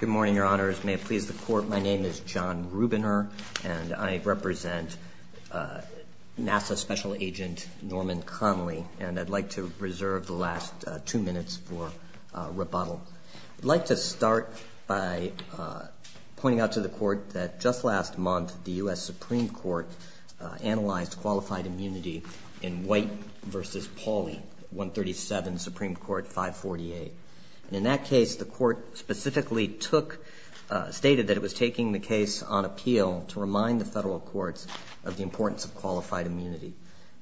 Good morning, Your Honors. May it please the Court, my name is John Rubiner, and I represent NASA Special Agent Norman Connolly, and I'd like to reserve the last two minutes for rebuttal. I'd like to start by pointing out to the Court that just last month, the U.S. Supreme Court analyzed qualified immunity in White v. Pauli, 137, Supreme Court 548. In that case, the Court specifically stated that it was taking the case on appeal to remind the federal courts of the importance of qualified immunity,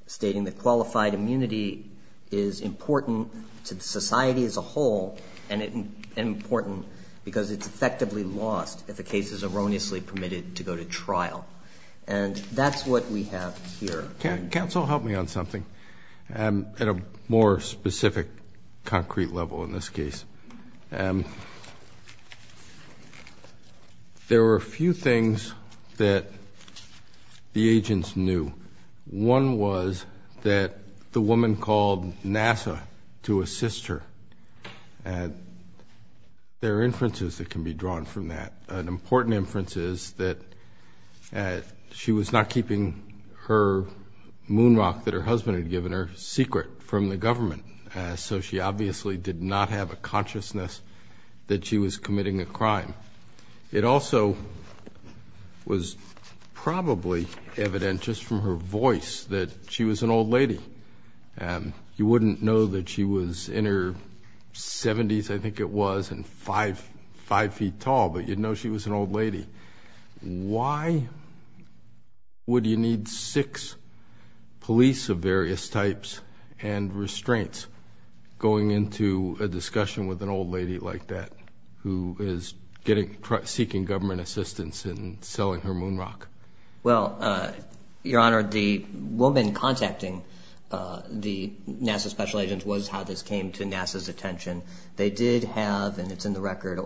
stating that qualified immunity is important to society as a whole, and important because it's effectively lost if a case is erroneously permitted to go to trial. And that's what we have here. Counsel, help me on something at a more specific, concrete level in this case. There were a few things that the agents knew. One was that the woman called NASA to assist her, and there are inferences that can be drawn from that. An important inference is that she was not keeping her moon rock that her husband had given her secret from the government, so she obviously did not have a consciousness that she was committing a crime. It also was probably evident just from her voice that she was an old lady. You wouldn't know that she was in her seventies, I think it was, and five feet tall, but you'd know she was an old lady. Why would you need six police of various types and restraints going into a discussion with an old lady like that who is seeking government assistance in selling her moon rock? Well, Your Honor, the woman contacting the NASA special agents was how this came to NASA's attention. They did have, and it's in the record,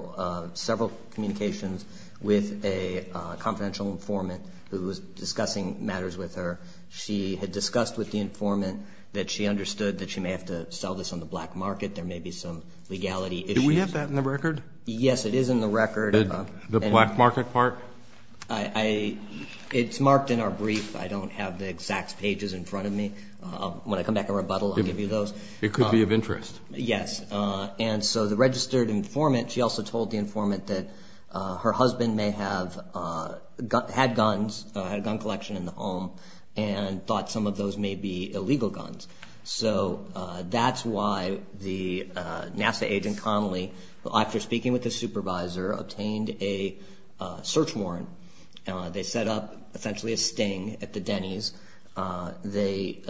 several communications with a confidential informant who was discussing matters with her. She had discussed with the informant that she understood that she may have to sell this on the black market, there may be some legality issues. Do we have that in the record? Yes, it is in the record. The black market part? It's marked in our brief. I don't have the exact pages in front of me. When I come back and rebuttal, I'll give you those. It could be of interest. Yes, and so the registered informant, she also told the informant that her husband had guns, had a gun collection in the home, and thought some of those may be illegal guns. So that's why the NASA agent Connelly, after speaking with the supervisor, obtained a search warrant. They set up essentially a sting at the Denny's. They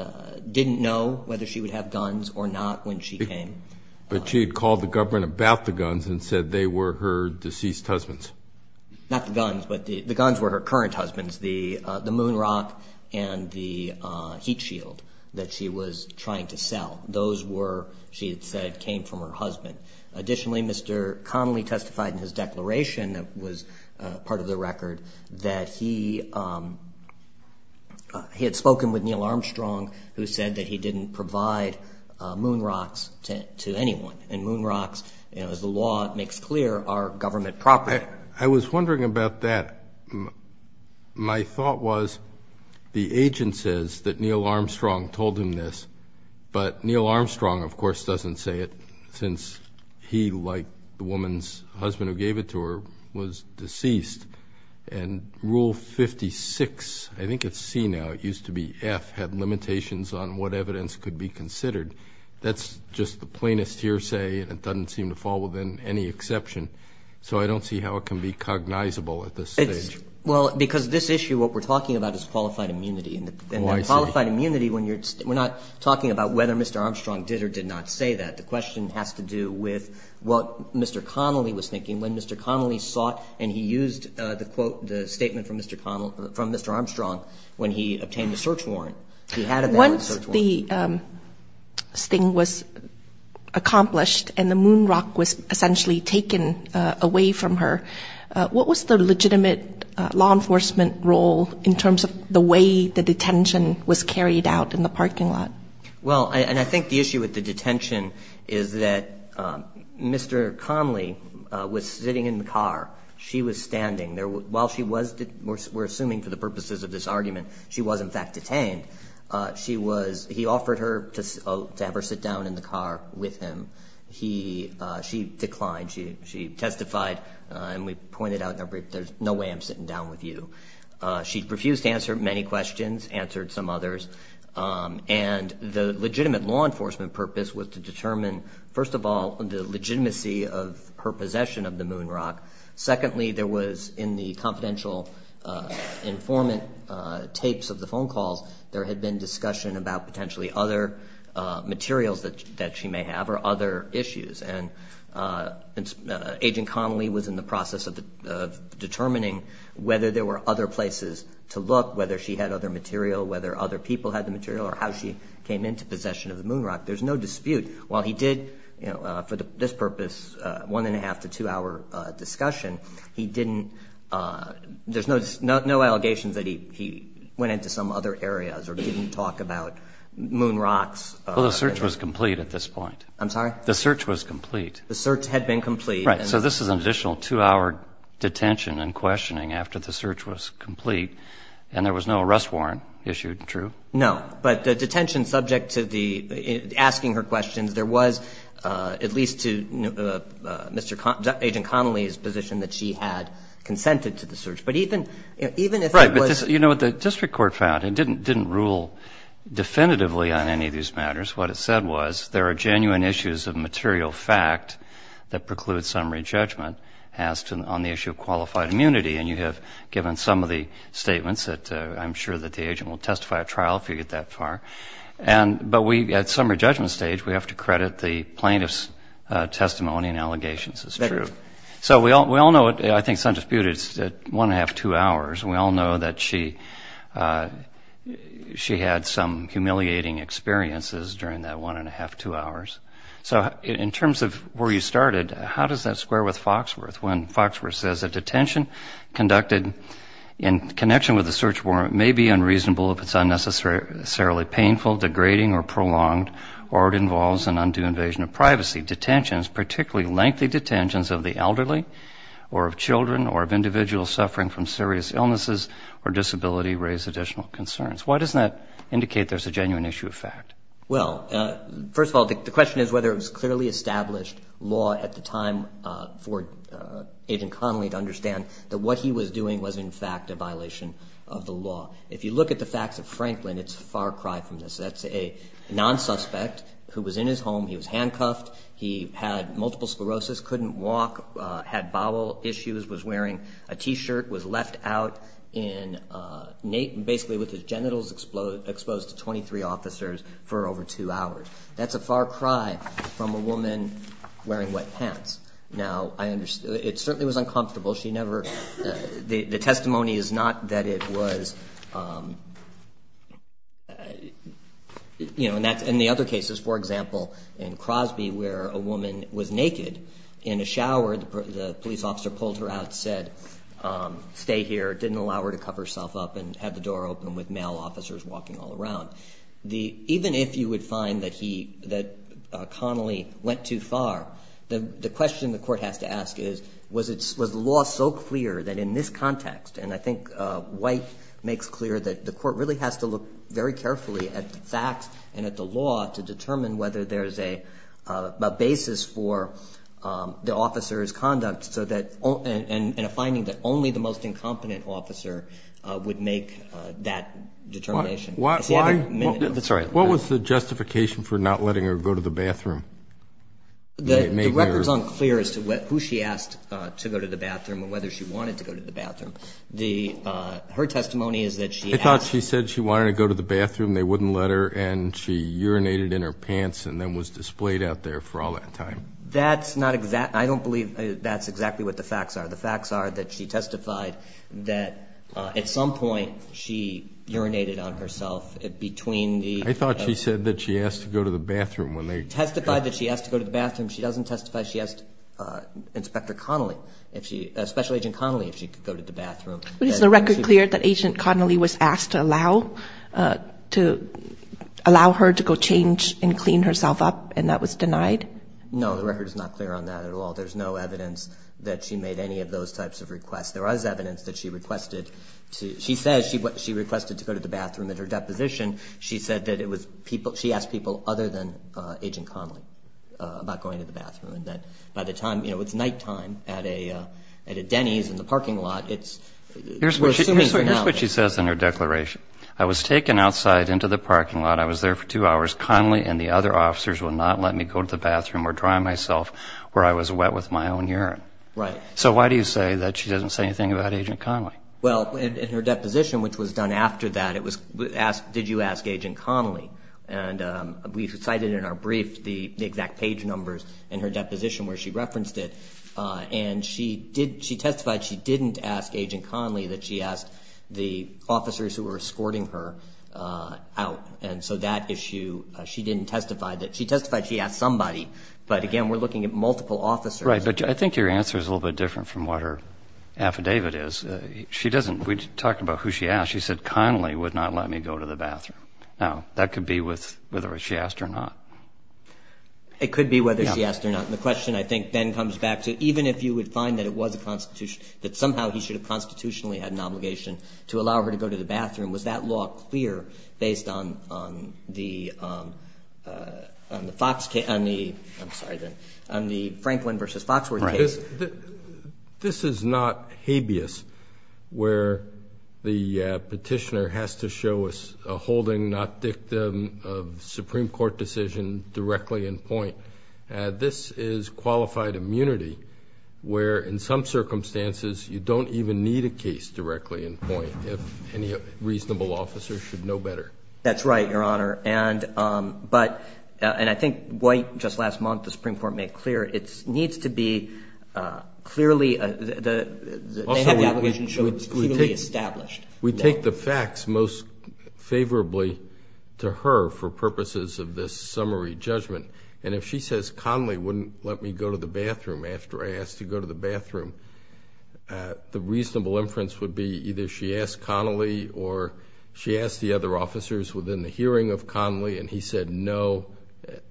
didn't know whether she would have guns or not when she came. But she had called the government about the guns and said they were her deceased husband's. Not the guns, but the guns were her current husband's, the moon rock and the heat shield that she was trying to sell. Those were, she had said, came from her husband. Additionally, Mr. Connelly testified in his declaration, that was part of the record, that he had spoken with Neil Armstrong, who said that he didn't provide moon rocks to anyone. And moon rocks, as the law makes clear, are government property. I was wondering about that. My thought was, the agent says that Neil Armstrong told him this, but Neil Armstrong, of course, doesn't say it, since he, like the woman's husband who gave it to her, was deceased. And Rule 56, I think it's C now, it used to be F, had limitations on what evidence could be considered. That's just the plainest hearsay, and it doesn't seem to fall within any exception. So I don't see how it can be cognizable at this stage. Well, because this issue, what we're talking about is qualified immunity. And qualified immunity, we're not talking about whether Mr. Armstrong did or did not say that. The question has to do with what Mr. Connelly was thinking when Mr. Connelly sought, and he used the statement from Mr. Armstrong when he obtained the search warrant. Once the sting was accomplished and the moon rock was essentially taken away from her, what was the legitimate law enforcement role in terms of the way the detention was carried out in the parking lot? Well, and I think the issue with the detention is that Mr. Connelly was sitting in the car. She was standing. While she was, we're assuming for the purposes of this argument, she was in fact detained. He offered her to have her sit down in the car with him. She declined. She testified, and we pointed out in our brief, there's no way I'm sitting down with you. She refused to answer many questions, answered some others. And the legitimate law enforcement purpose was to determine, first of all, the legitimacy of her possession of the moon rock. Secondly, there was in the confidential informant tapes of the phone calls, there had been discussion about potentially other materials that she may have or other issues. And Agent Connelly was in the process of determining whether there were other places to look, whether she had other material, whether other people had the material, or how she came into possession of the moon rock. There's no dispute. While he did, for this purpose, one-and-a-half to two-hour discussion, he didn't, there's no allegations that he went into some other areas or didn't talk about moon rocks. Well, the search was complete at this point. I'm sorry? The search was complete. The search had been complete. Right. So this is an additional two-hour detention and questioning after the search was complete, and there was no arrest warrant issued, true? No. But the detention subject to the, asking her questions, there was at least to Agent Connelly's position that she had consented to the search. But even if it was... Right. But you know what the district court found? It didn't rule definitively on any of these matters. What it said was there are genuine issues of material fact that preclude summary judgment as to, on the issue of qualified immunity. And you have given some of the statements that I'm sure that the agent will testify at trial if you get that far. But at summary judgment stage, we have to credit the plaintiff's testimony and allegations as true. So we all know, I think it's undisputed, it's one-and-a-half, two hours. We all know that she had some humiliating experiences during that one-and-a-half, two hours. So in terms of where you started, how does that square with Foxworth? When Foxworth says a detention conducted in connection with a search warrant may be unreasonable if it's unnecessarily painful, degrading, or prolonged, or it involves an undue invasion of privacy. Detentions, particularly lengthy detentions of the elderly or of children or of individuals suffering from serious illnesses or disability, raise additional concerns. Why doesn't that indicate there's a genuine issue of fact? Well, first of all, the question is whether it was clearly established law at the time for Agent Connolly to understand that what he was doing was in fact a violation of the law. If you look at the facts of Franklin, it's a far cry from this. That's a non-suspect who was in his home. He was handcuffed. He had multiple sclerosis, couldn't walk, had bowel issues, was wearing a T-shirt, was left out in basically with his genitals exposed to 23 officers for over two hours. That's a far cry from a woman wearing wet pants. Now, it certainly was uncomfortable. The testimony is not that it was, you know, in the other cases. For example, in Crosby where a woman was naked in a shower, the police officer pulled her out, said, stay here, didn't allow her to cover herself up and had the door open with male officers walking all around. Even if you would find that Connolly went too far, the question the court has to ask is, was the law so clear that in this context, and I think White makes clear that the court really has to look very carefully at the facts and at the law to determine whether there's a basis for the officer's conduct and a finding that only the most incompetent officer would make that determination. What was the justification for not letting her go to the bathroom? The record's unclear as to who she asked to go to the bathroom and whether she wanted to go to the bathroom. Her testimony is that she asked. I thought she said she wanted to go to the bathroom, they wouldn't let her, and she urinated in her pants and then was displayed out there for all that time. That's not exact. I don't believe that's exactly what the facts are. The facts are that she testified that at some point she urinated on herself between the... I thought she said that she asked to go to the bathroom when they... Testified that she asked to go to the bathroom. She doesn't testify she asked Inspector Connolly if she, Special Agent Connolly, if she could go to the bathroom. But is the record clear that Agent Connolly was asked to allow, to allow her to go change and clean herself up and that was denied? No. The record is not clear on that at all. There's no evidence that she made any of those types of requests. There was evidence that she requested to... She says she requested to go to the bathroom. In her deposition, she said that it was people... She asked people other than Agent Connolly about going to the bathroom and that by the time, you know, it's nighttime at a Denny's in the parking lot, it's... We're assuming for now. Here's what she says in her declaration. I was taken outside into the parking lot. I was there for two hours. Of course, Connolly and the other officers would not let me go to the bathroom or dry myself where I was wet with my own urine. Right. So why do you say that she doesn't say anything about Agent Connolly? Well, in her deposition, which was done after that, it was did you ask Agent Connolly? And we cited in our brief the exact page numbers in her deposition where she referenced it. And she did... She testified she didn't ask Agent Connolly, that she asked the officers who were escorting her out. And so that issue, she didn't testify that... She testified she asked somebody. But, again, we're looking at multiple officers. Right. But I think your answer is a little bit different from what her affidavit is. She doesn't... We talked about who she asked. She said Connolly would not let me go to the bathroom. Now, that could be whether she asked or not. It could be whether she asked or not. And the question, I think, then comes back to even if you would find that it was a constitution, that somehow he should have constitutionally had an obligation to allow her to go to the bathroom, was that law clear based on the Franklin v. Foxworth case? This is not habeas where the petitioner has to show a holding not dictum of Supreme Court decision directly in point. This is qualified immunity where, in some circumstances, you don't even need a case directly in point if any reasonable officer should know better. That's right, Your Honor. And I think White, just last month, the Supreme Court made clear it needs to be clearly... Also, we take the facts most favorably to her for purposes of this summary judgment. And if she says Connolly wouldn't let me go to the bathroom after I asked to go to the bathroom, the reasonable inference would be either she asked Connolly or she asked the other officers within the hearing of Connolly and he said no,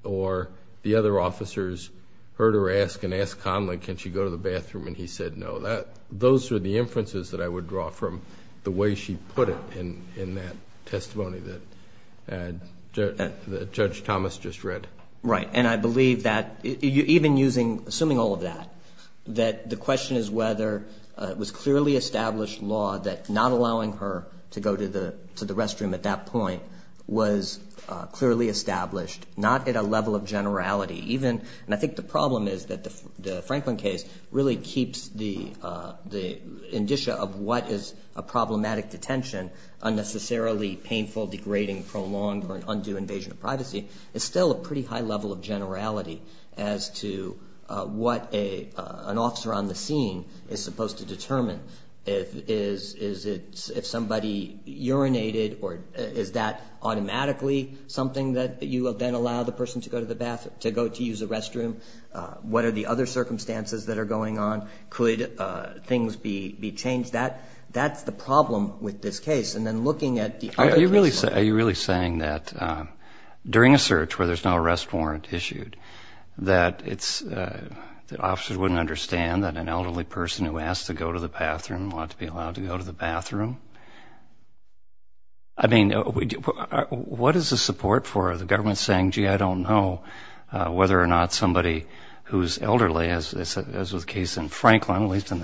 or the other officers heard her ask and asked Connolly can she go to the bathroom and he said no. Those are the inferences that I would draw from the way she put it in that testimony that Judge Thomas just read. Right. And I believe that even using, assuming all of that, that the question is whether it was clearly established law that not allowing her to go to the restroom at that point was clearly established, not at a level of generality. Even, and I think the problem is that the Franklin case really keeps the indicia of what is a problematic detention unnecessarily painful, degrading, prolonged, or an undue invasion of privacy. It's still a pretty high level of generality as to what an officer on the scene is supposed to determine. Is it if somebody urinated or is that automatically something that you will then allow the person to go to the bathroom, to go to use the restroom? What are the other circumstances that are going on? Could things be changed? That's the problem with this case. And then looking at the other cases. Are you really saying that during a search where there's no arrest warrant issued that it's, that officers wouldn't understand that an elderly person who asked to go to the bathroom ought to be allowed to go to the bathroom? I mean, what is the support for the government saying, gee, I don't know whether or not somebody who's elderly, as was the case in Franklin, at least in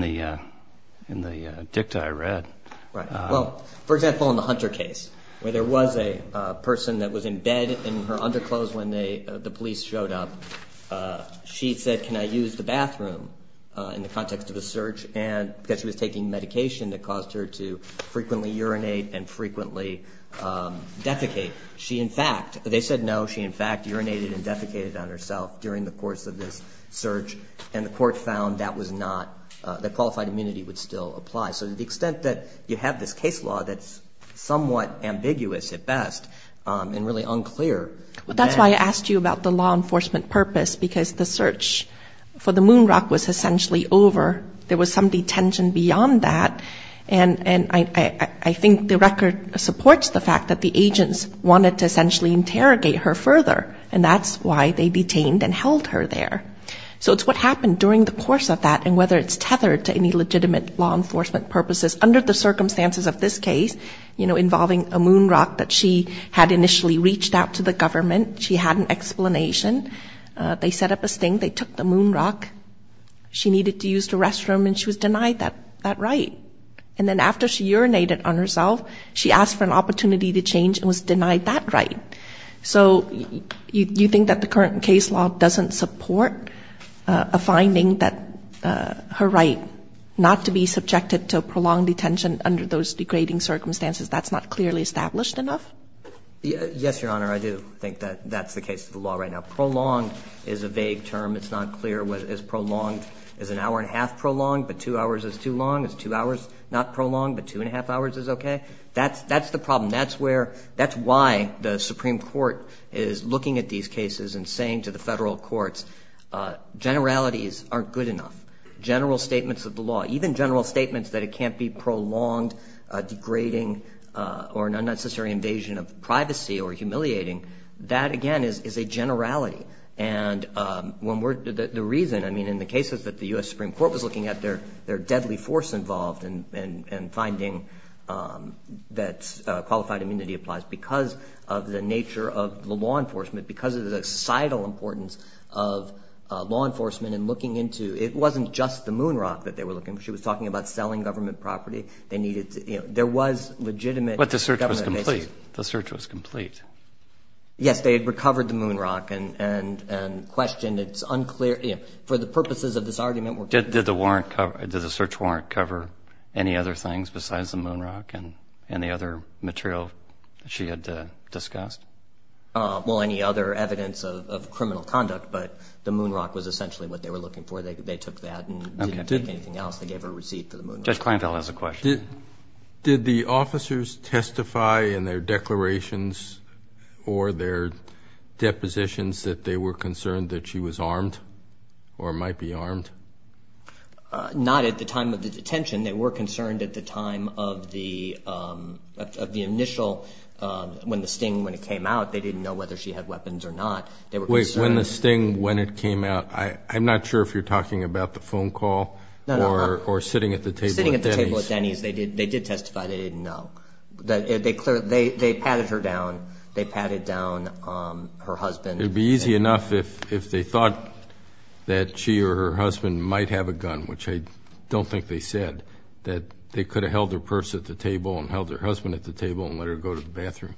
the dicta I read. Right. Well, for example, in the Hunter case, where there was a person that was in bed in her underclothes when the police showed up, she said, can I use the bathroom, in the context of a search, because she was taking medication that caused her to frequently urinate and frequently defecate. She, in fact, they said no. She, in fact, urinated and defecated on herself during the course of this search, and the court found that was not, that qualified immunity would still apply. So to the extent that you have this case law that's somewhat ambiguous at best and really unclear. Well, that's why I asked you about the law enforcement purpose, because the search for the moon rock was essentially over. There was some detention beyond that. And I think the record supports the fact that the agents wanted to essentially interrogate her further, and that's why they detained and held her there. So it's what happened during the course of that and whether it's tethered to any legitimate law enforcement purposes under the circumstances of this case, you know, involving a moon rock that she had initially reached out to the government and she had an explanation. They set up a sting. They took the moon rock. She needed to use the restroom, and she was denied that right. And then after she urinated on herself, she asked for an opportunity to change and was denied that right. So you think that the current case law doesn't support a finding that her right not to be subjected to prolonged detention under those degrading circumstances, that's not clearly established enough? Yes, Your Honor, I do think that that's the case of the law right now. Prolonged is a vague term. It's not clear whether it's prolonged. Is an hour-and-a-half prolonged, but two hours is too long? Is two hours not prolonged, but two-and-a-half hours is okay? That's the problem. That's why the Supreme Court is looking at these cases and saying to the federal courts, generalities aren't good enough. General statements of the law, even general statements that it can't be prolonged, degrading, or an unnecessary invasion of privacy or humiliating, that, again, is a generality. And the reason, I mean, in the cases that the U.S. Supreme Court was looking at, they're deadly force involved in finding that qualified immunity applies because of the nature of the law enforcement, because of the societal importance of law enforcement and looking into it. It wasn't just the moon rock that they were looking for. She was talking about selling government property. They needed to, you know, there was legitimate government pay. But the search was complete. The search was complete. Yes, they had recovered the moon rock and questioned its unclear, you know, for the purposes of this argument. Did the warrant cover, did the search warrant cover any other things besides the moon rock and any other material that she had discussed? Well, any other evidence of criminal conduct, but the moon rock was essentially what they were looking for. They took that and didn't take anything else. They gave her a receipt for the moon rock. Judge Kleinfeld has a question. Did the officers testify in their declarations or their depositions that they were concerned that she was armed or might be armed? Not at the time of the detention. They were concerned at the time of the initial, when the sting, when it came out. They didn't know whether she had weapons or not. They were concerned. Wait, when the sting, when it came out, I'm not sure if you're talking about the phone call or sitting at the table. Sitting at the table at Denny's. They did testify. They didn't know. They patted her down. They patted down her husband. It would be easy enough if they thought that she or her husband might have a gun, which I don't think they said, that they could have held her purse at the table and held her husband at the table and let her go to the bathroom.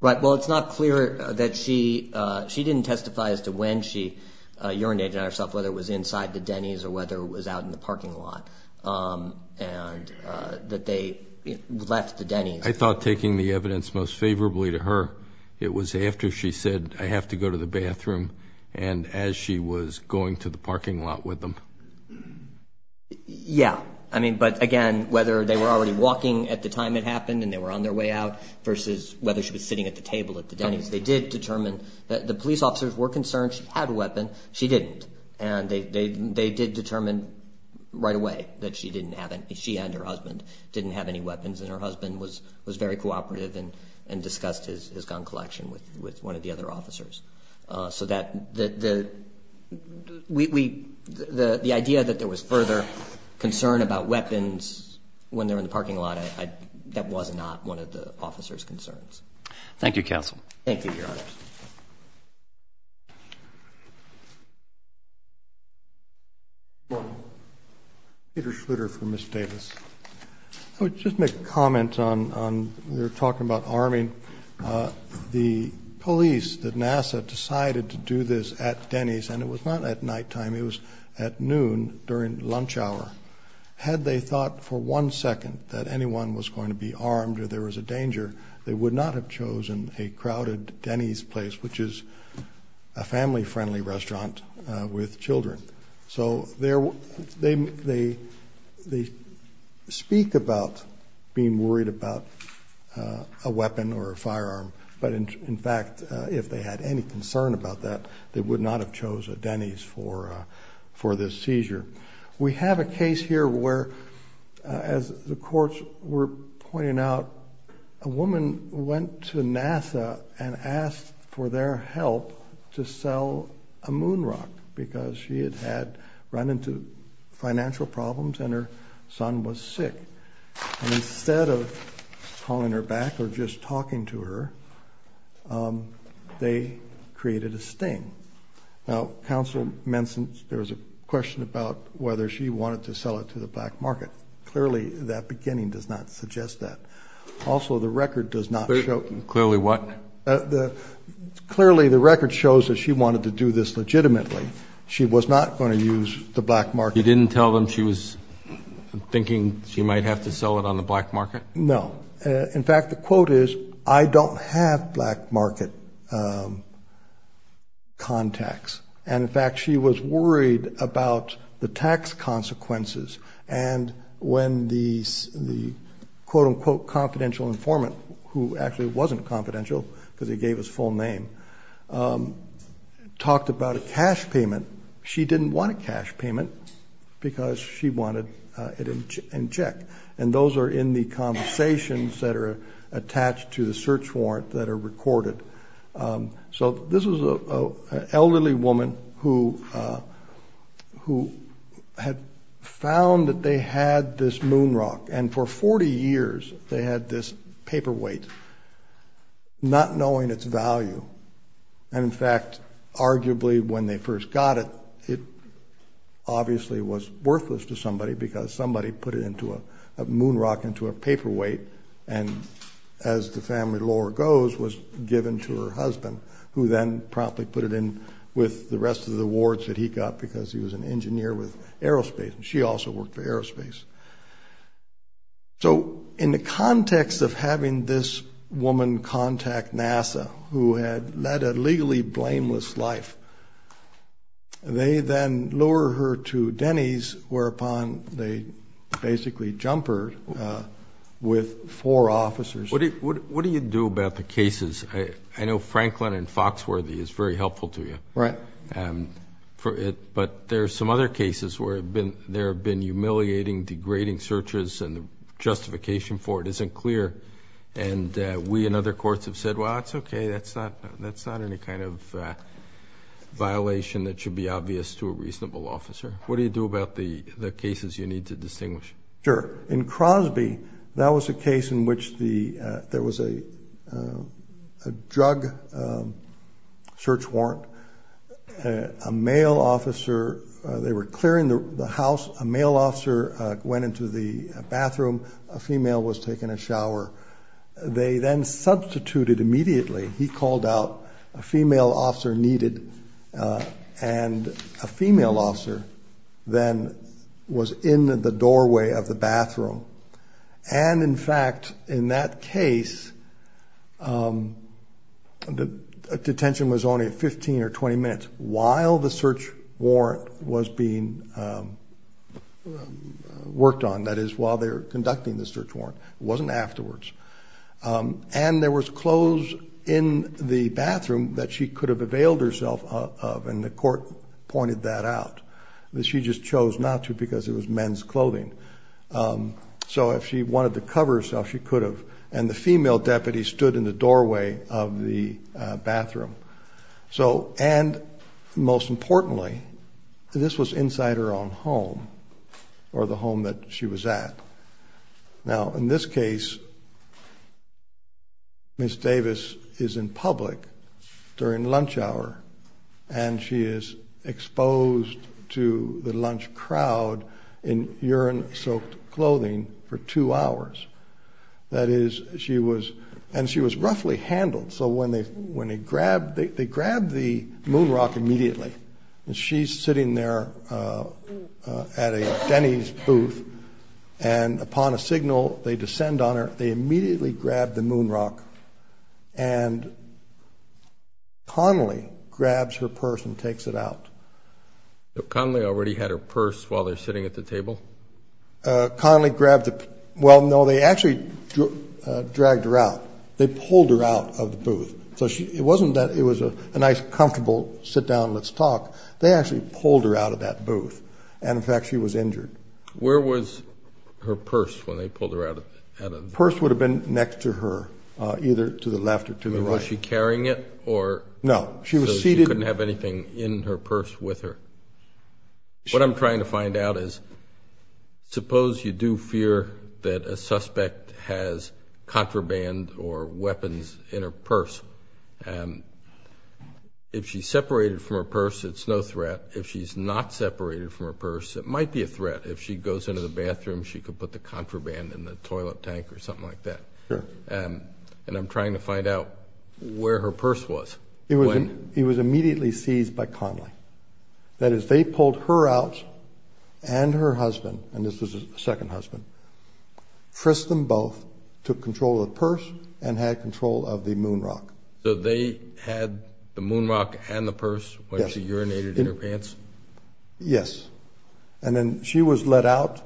Right. Well, it's not clear that she, she didn't testify as to when she urinated on herself, whether it was inside the Denny's or whether it was out in the parking lot, and that they left the Denny's. I thought taking the evidence most favorably to her, it was after she said, I have to go to the bathroom, and as she was going to the parking lot with them. Yeah. I mean, but, again, whether they were already walking at the time it happened and they were on their way out versus whether she was sitting at the table at the Denny's. They did determine that the police officers were concerned she had a weapon. She didn't. And they did determine right away that she didn't have any. She and her husband didn't have any weapons. And her husband was very cooperative and discussed his gun collection with one of the other officers. So the idea that there was further concern about weapons when they were in the parking lot, Thank you, counsel. Thank you, Your Honor. Peter Schluter for Ms. Davis. I would just make a comment on we were talking about arming. The police at NASA decided to do this at Denny's, and it was not at nighttime. It was at noon during lunch hour. Had they thought for one second that anyone was going to be armed or there was a danger, they would not have chosen a crowded Denny's place, which is a family-friendly restaurant with children. So they speak about being worried about a weapon or a firearm, but, in fact, if they had any concern about that, they would not have chosen a Denny's for this seizure. We have a case here where, as the courts were pointing out, a woman went to NASA and asked for their help to sell a moon rock because she had run into financial problems and her son was sick. And instead of calling her back or just talking to her, they created a sting. Now, Counsel, there was a question about whether she wanted to sell it to the black market. Clearly that beginning does not suggest that. Also, the record does not show. Clearly what? Clearly the record shows that she wanted to do this legitimately. She was not going to use the black market. You didn't tell them she was thinking she might have to sell it on the black market? No. In fact, the quote is, I don't have black market contacts. And, in fact, she was worried about the tax consequences. And when the quote-unquote confidential informant, who actually wasn't confidential because he gave his full name, talked about a cash payment, she didn't want a cash payment because she wanted it in check. And those are in the conversations that are attached to the search warrant that are recorded. So this was an elderly woman who had found that they had this moon rock, and for 40 years they had this paperweight, not knowing its value. And, in fact, arguably when they first got it, it obviously was worthless to somebody because somebody put a moon rock into a paperweight, and as the family lore goes, was given to her husband, who then promptly put it in with the rest of the awards that he got because he was an engineer with aerospace, and she also worked for aerospace. So in the context of having this woman contact NASA, who had led a legally blameless life, they then lure her to Denny's, whereupon they basically jump her with four officers. What do you do about the cases? I know Franklin and Foxworthy is very helpful to you. Right. But there are some other cases where there have been humiliating, degrading searches, and the justification for it isn't clear. And we and other courts have said, well, it's okay. That's not any kind of violation that should be obvious to a reasonable officer. What do you do about the cases you need to distinguish? Sure. In Crosby, that was a case in which there was a drug search warrant. A male officer, they were clearing the house. A male officer went into the bathroom. A female was taking a shower. They then substituted immediately. He called out a female officer needed, and a female officer then was in the doorway of the bathroom. And, in fact, in that case, the detention was only 15 or 20 minutes while the search warrant was being worked on. That is, while they were conducting the search warrant. It wasn't afterwards. And there was clothes in the bathroom that she could have availed herself of, and the court pointed that out. She just chose not to because it was men's clothing. So if she wanted to cover herself, she could have. And the female deputy stood in the doorway of the bathroom. And, most importantly, this was inside her own home, or the home that she was at. Now, in this case, Ms. Davis is in public during lunch hour, and she is exposed to the lunch crowd in urine-soaked clothing for two hours. That is, she was roughly handled. So when they grabbed, they grabbed the moon rock immediately. And she's sitting there at a Denny's booth. And upon a signal, they descend on her. They immediately grab the moon rock, and Connolly grabs her purse and takes it out. So Connolly already had her purse while they're sitting at the table? Connolly grabbed it. Well, no, they actually dragged her out. They pulled her out of the booth. So it wasn't that it was a nice, comfortable sit-down-let's-talk. They actually pulled her out of that booth. And, in fact, she was injured. Where was her purse when they pulled her out of the booth? The purse would have been next to her, either to the left or to the right. Was she carrying it? No. So she couldn't have anything in her purse with her? What I'm trying to find out is suppose you do fear that a suspect has contraband or weapons in her purse. If she's separated from her purse, it's no threat. If she's not separated from her purse, it might be a threat. If she goes into the bathroom, she could put the contraband in the toilet tank or something like that. And I'm trying to find out where her purse was. It was immediately seized by Connelly. That is, they pulled her out and her husband, and this was the second husband, frisked them both, took control of the purse, and had control of the moonrock. So they had the moonrock and the purse when she urinated in her pants? Yes. And then she was let out.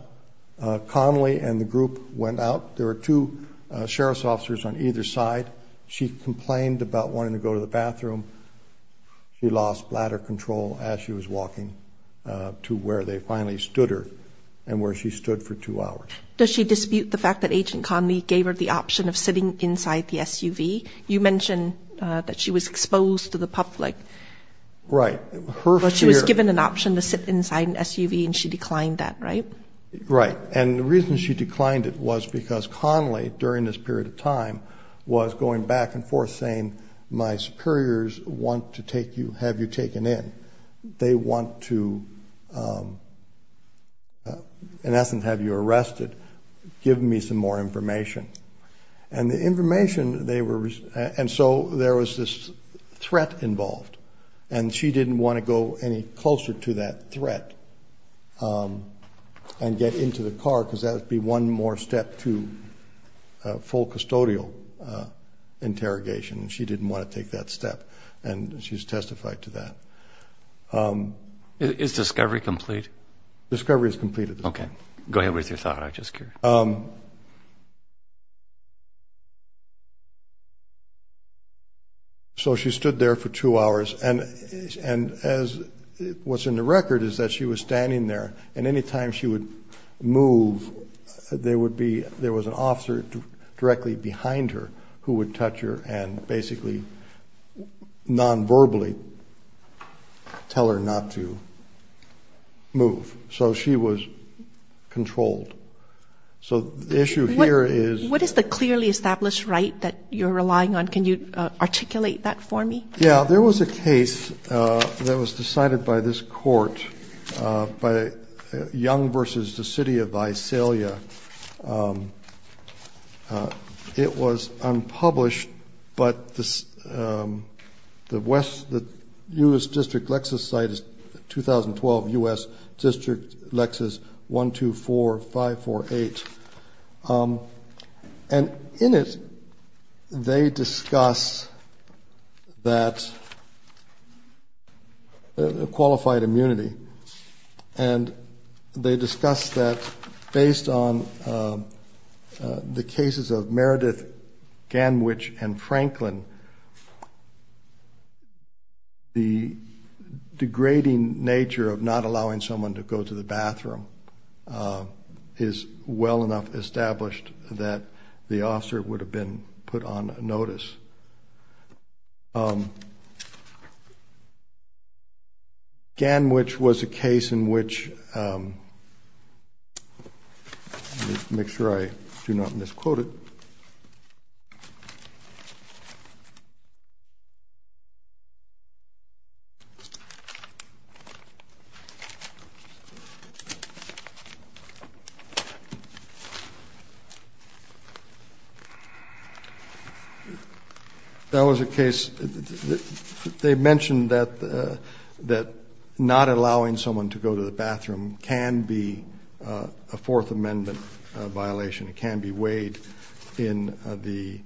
Connelly and the group went out. There were two sheriff's officers on either side. She complained about wanting to go to the bathroom. She lost bladder control as she was walking to where they finally stood her and where she stood for two hours. Does she dispute the fact that Agent Connelly gave her the option of sitting inside the SUV? You mentioned that she was exposed to the public. Right. She was given an option to sit inside an SUV, and she declined that, right? Right. And the reason she declined it was because Connelly, during this period of time, was going back and forth saying, my superiors want to have you taken in. They want to, in essence, have you arrested. Give me some more information. And so there was this threat involved, and she didn't want to go any closer to that threat and get into the car because that would be one more step to full custodial interrogation. She didn't want to take that step, and she's testified to that. Is discovery complete? Discovery is completed. Okay. Go ahead with your thought. I'm just curious. So she stood there for two hours, and what's in the record is that she was standing there, and any time she would move, there was an officer directly behind her who would touch her and basically nonverbally tell her not to move. So she was controlled. So the issue here is — What is the clearly established right that you're relying on? Can you articulate that for me? Yeah. There was a case that was decided by this court, Young v. the City of Visalia. It was unpublished, but the U.S. District Lexus site is 2012 U.S. District Lexus 124548. And in it, they discuss that qualified immunity, and they discuss that based on the cases of Meredith Ganwich and Franklin, the degrading nature of not allowing someone to go to the bathroom is well enough established that the officer would have been put on notice. Ganwich was a case in which — make sure I do not misquote it. That was a case — they mentioned that not allowing someone to go to the bathroom can be a Fourth Amendment violation. It can be weighed in the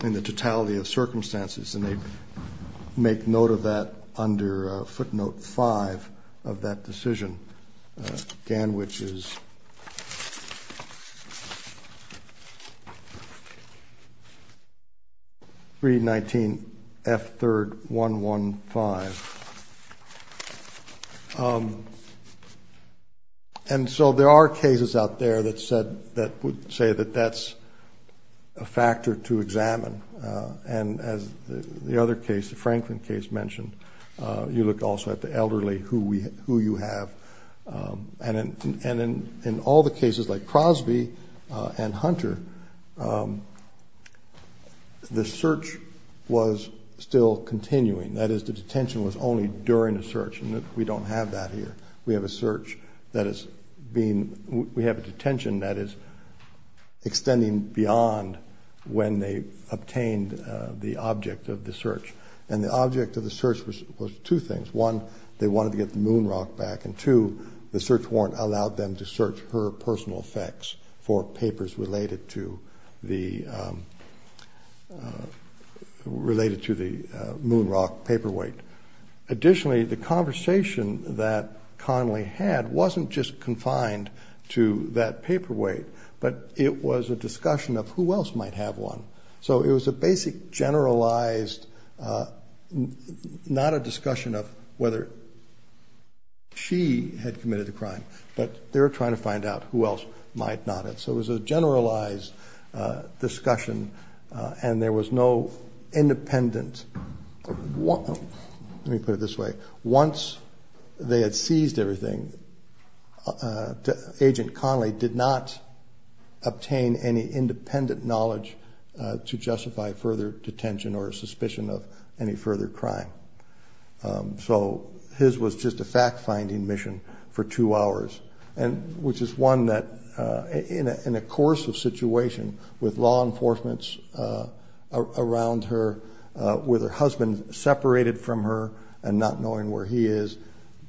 totality of circumstances, and they make note of that under footnote five of that decision. Ganwich is 319F3RD115. And so there are cases out there that would say that that's a factor to examine. And as the other case, the Franklin case mentioned, you looked also at the elderly, who you have. And in all the cases like Crosby and Hunter, the search was still continuing. That is, the detention was only during a search, and we don't have that here. We have a detention that is extending beyond when they obtained the object of the search. And the object of the search was two things. One, they wanted to get the moon rock back, and two, the search warrant allowed them to search her personal effects for papers related to the moon rock paperweight. Additionally, the conversation that Conley had wasn't just confined to that paperweight, but it was a discussion of who else might have one. So it was a basic generalized, not a discussion of whether she had committed a crime, but they were trying to find out who else might not have. So it was a generalized discussion, and there was no independent. Let me put it this way. Once they had seized everything, Agent Conley did not obtain any independent knowledge to justify further detention or suspicion of any further crime. So his was just a fact-finding mission for two hours, which is one that, in a coercive situation with law enforcement around her, with her husband separated from her and not knowing where he is,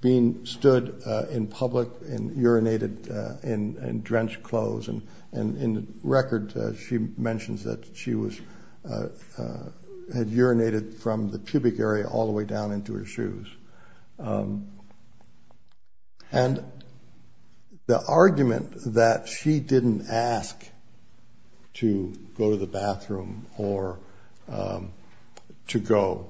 being stood in public and urinated in drenched clothes. And in the record, she mentions that she had urinated from the pubic area all the way down into her shoes. And the argument that she didn't ask to go to the bathroom or to go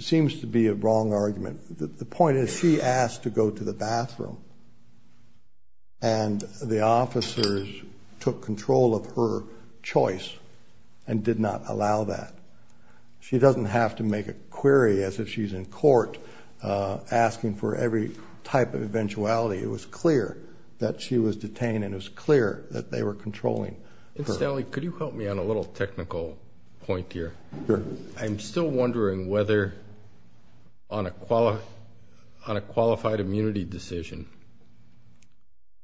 seems to be a wrong argument. The point is she asked to go to the bathroom, and the officers took control of her choice and did not allow that. She doesn't have to make a query as if she's in court asking for every type of eventuality. It was clear that she was detained, and it was clear that they were controlling her. Mr. Stanley, could you help me on a little technical point here? Sure. I'm still wondering whether on a qualified immunity decision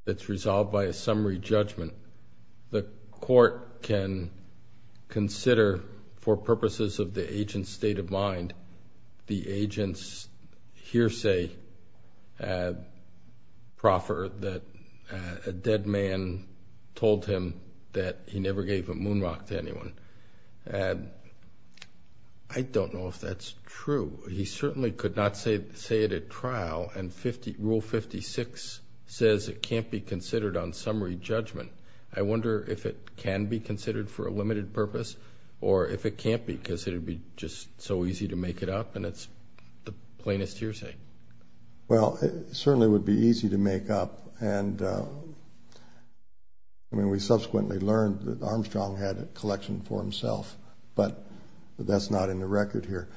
that's resolved by a summary judgment, the court can consider for purposes of the agent's state of mind and not the agent's hearsay proffer that a dead man told him that he never gave a moon rock to anyone. I don't know if that's true. He certainly could not say it at trial, and Rule 56 says it can't be considered on summary judgment. I wonder if it can be considered for a limited purpose or if it can't be because it would be just so easy to make it up and it's the plainest hearsay. Well, it certainly would be easy to make up, and we subsequently learned that Armstrong had a collection for himself, but that's not in the record here.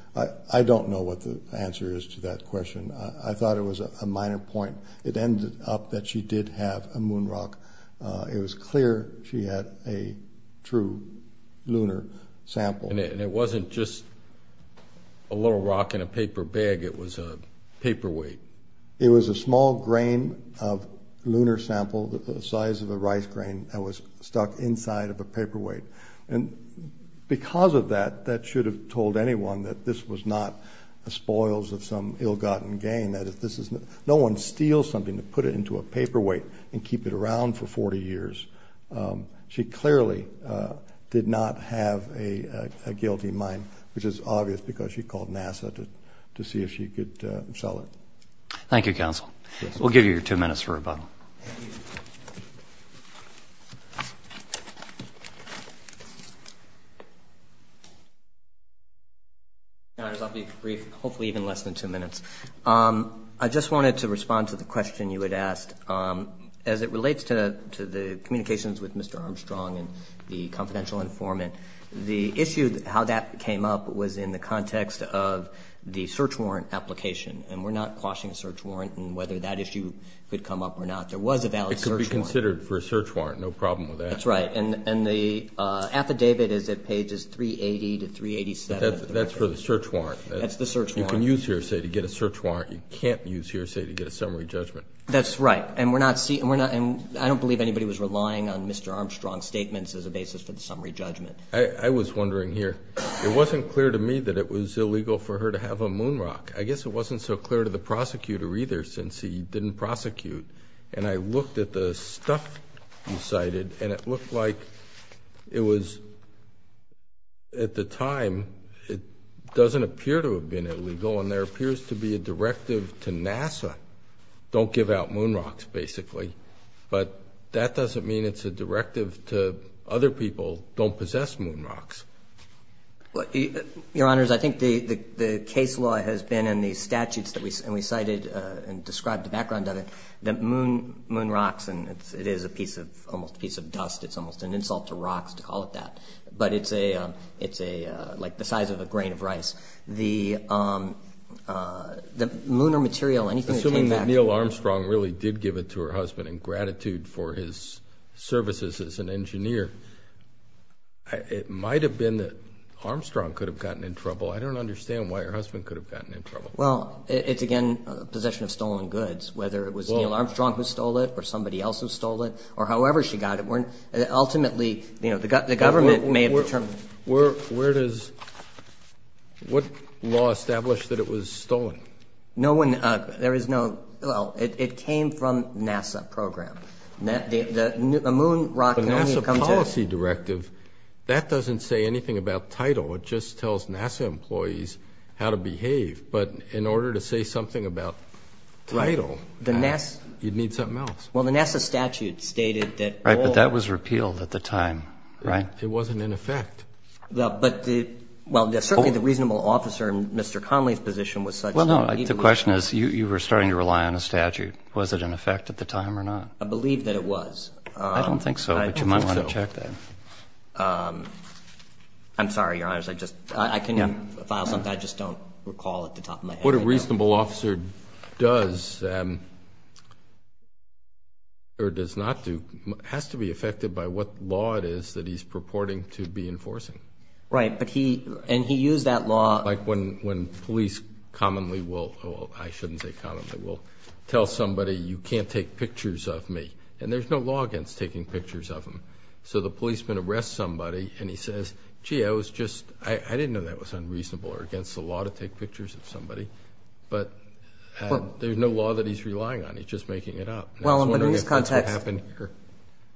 I don't know what the answer is to that question. I thought it was a minor point. It ended up that she did have a moon rock. It was clear she had a true lunar sample. And it wasn't just a little rock in a paper bag. It was a paperweight. It was a small grain of lunar sample the size of a rice grain that was stuck inside of a paperweight, and because of that, that should have told anyone that this was not the spoils of some ill-gotten gain, that no one steals something to put it into a paperweight and keep it around for 40 years. She clearly did not have a guilty mind, which is obvious because she called NASA to see if she could sell it. Thank you, Counsel. We'll give you your two minutes for rebuttal. I'll be brief, hopefully even less than two minutes. I just wanted to respond to the question you had asked. As it relates to the communications with Mr. Armstrong and the confidential informant, the issue how that came up was in the context of the search warrant application. And we're not quashing a search warrant and whether that issue could come up or not. There was a valid search warrant. It could be considered for a search warrant, no problem with that. That's right. And the affidavit is at pages 380 to 387. That's for the search warrant. That's the search warrant. You can use hearsay to get a search warrant. You can't use hearsay to get a summary judgment. That's right. And I don't believe anybody was relying on Mr. Armstrong's statements as a basis for the summary judgment. I was wondering here. It wasn't clear to me that it was illegal for her to have a moon rock. I guess it wasn't so clear to the prosecutor either since he didn't prosecute. And I looked at the stuff you cited, and it looked like it was, at the time, it doesn't appear to have been illegal, and there appears to be a directive to NASA, don't give out moon rocks, basically. But that doesn't mean it's a directive to other people, don't possess moon rocks. Your Honors, I think the case law has been in the statutes that we cited and described the background of it, that moon rocks, and it is a piece of almost a piece of dust. It's almost an insult to rocks to call it that. But it's like the size of a grain of rice. The moon or material, anything that came back. Assuming that Neil Armstrong really did give it to her husband in gratitude for his services as an engineer, it might have been that Armstrong could have gotten in trouble. I don't understand why her husband could have gotten in trouble. Well, it's, again, possession of stolen goods, whether it was Neil Armstrong who stole it or somebody else who stole it, or however she got it. Ultimately, the government may have determined. Where does, what law established that it was stolen? No one, there is no, well, it came from NASA program. A moon rock only comes in. The NASA policy directive, that doesn't say anything about title. It just tells NASA employees how to behave. But in order to say something about title, you'd need something else. Well, the NASA statute stated that all. Right, but that was repealed at the time, right? It wasn't in effect. But the, well, certainly the reasonable officer in Mr. Connolly's position was such. Well, no, the question is, you were starting to rely on a statute. Was it in effect at the time or not? I believe that it was. I don't think so, but you might want to check that. I'm sorry, Your Honors. I just, I can file something. I just don't recall at the top of my head. What a reasonable officer does, or does not do, has to be affected by what law it is that he's purporting to be enforcing. Right, but he, and he used that law. Like when police commonly will, well, I shouldn't say commonly, will tell somebody, you can't take pictures of me. And there's no law against taking pictures of them. So the policeman arrests somebody and he says, gee, I was just, I didn't know that was unreasonable or against the law to take pictures of somebody. But there's no law that he's relying on. He's just making it up. I was wondering if that's what happened here.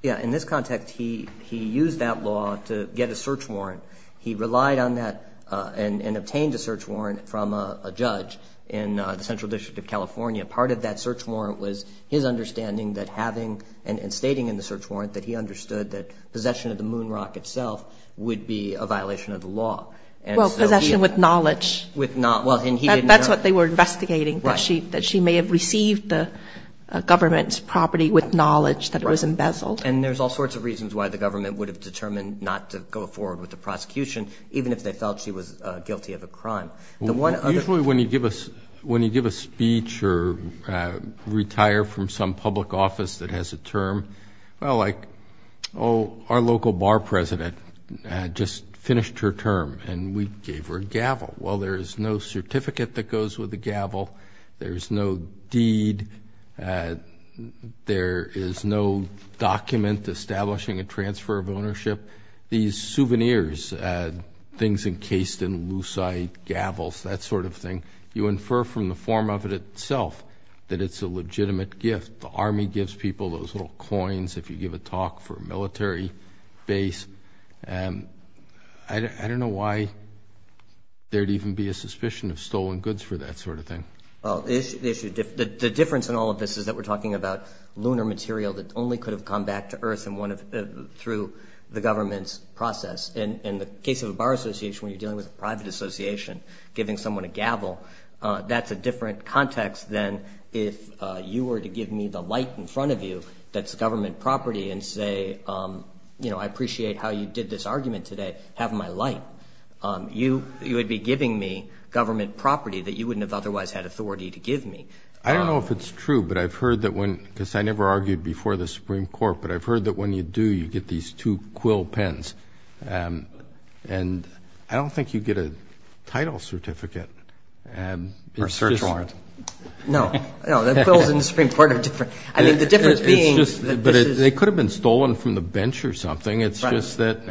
Yeah, in this context, he used that law to get a search warrant. He relied on that and obtained a search warrant from a judge in the Central District of California. Part of that search warrant was his understanding that having and stating in the search warrant that he understood that possession of the moon rock itself would be a violation of the law. Well, possession with knowledge. Well, and he didn't know. That's what they were investigating, that she may have received the government's property with knowledge that it was embezzled. And there's all sorts of reasons why the government would have determined not to go forward with the prosecution, even if they felt she was guilty of a crime. Usually when you give a speech or retire from some public office that has a term, well, like, oh, our local bar president just finished her term and we gave her a gavel. Well, there's no certificate that goes with a gavel. There's no deed. There is no document establishing a transfer of ownership. These souvenirs, things encased in lucite, gavels, that sort of thing, you infer from the form of it itself that it's a legitimate gift. The Army gives people those little coins if you give a talk for a military base. I don't know why there would even be a suspicion of stolen goods for that sort of thing. Well, the difference in all of this is that we're talking about lunar material that only could have come back to Earth through the government's process. In the case of a bar association, when you're dealing with a private association, giving someone a gavel, that's a different context than if you were to give me the light in front of you that's government property and say, you know, I appreciate how you did this argument today. Have my light. You would be giving me government property that you wouldn't have otherwise had authority to give me. I don't know if it's true, because I never argued before the Supreme Court, but I've heard that when you do, you get these two quill pens. And I don't think you get a title certificate. Or a search warrant. No, no, the quills in the Supreme Court are different. I mean, the difference being that this is... But they could have been stolen from the bench or something. It's just that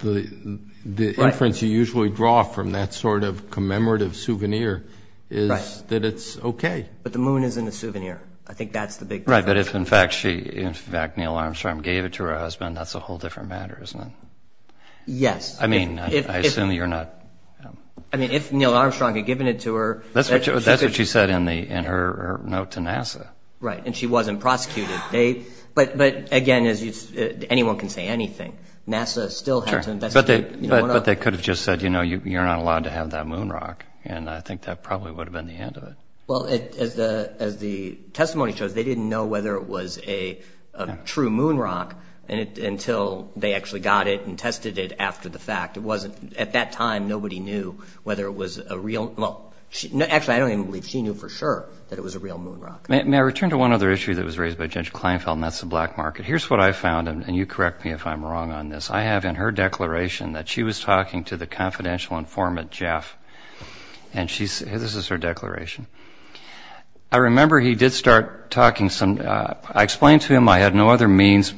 the inference you usually draw from that sort of commemorative souvenir is that it's okay. But the moon isn't a souvenir. I think that's the big difference. But if, in fact, Neil Armstrong gave it to her husband, that's a whole different matter, isn't it? Yes. I mean, I assume you're not... I mean, if Neil Armstrong had given it to her... That's what she said in her note to NASA. Right, and she wasn't prosecuted. But, again, anyone can say anything. NASA still had to investigate. But they could have just said, you know, you're not allowed to have that moon rock. And I think that probably would have been the end of it. Well, as the testimony shows, they didn't know whether it was a true moon rock until they actually got it and tested it after the fact. It wasn't... At that time, nobody knew whether it was a real... Well, actually, I don't even believe she knew for sure that it was a real moon rock. May I return to one other issue that was raised by Judge Kleinfeld, and that's the black market? Here's what I found, and you correct me if I'm wrong on this. I have in her declaration that she was talking to the confidential informant, Jeff, and this is her declaration. I remember he did start talking some... I explained to him I had no other means,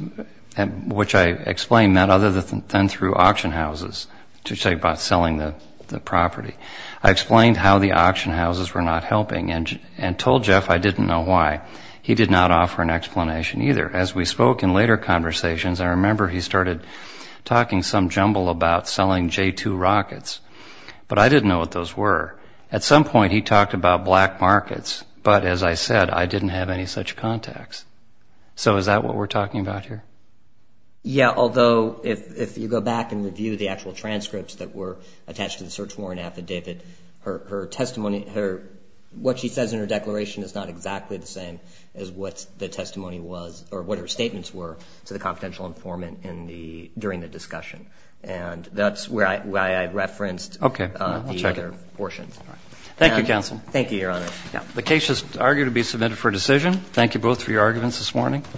which I explained, other than through auction houses to check about selling the property. I explained how the auction houses were not helping and told Jeff I didn't know why. He did not offer an explanation either. As we spoke in later conversations, I remember he started talking some jumble about selling J-2 rockets. But I didn't know what those were. At some point, he talked about black markets, but as I said, I didn't have any such contacts. So is that what we're talking about here? Yeah, although if you go back and review the actual transcripts that were attached to the search warrant affidavit, her testimony... What she says in her declaration is not exactly the same as what the testimony was or what her statements were to the confidential informant during the discussion. That's why I referenced the other portions. Thank you, counsel. Thank you, Your Honor. The case is argued to be submitted for decision. Thank you both for your arguments this morning.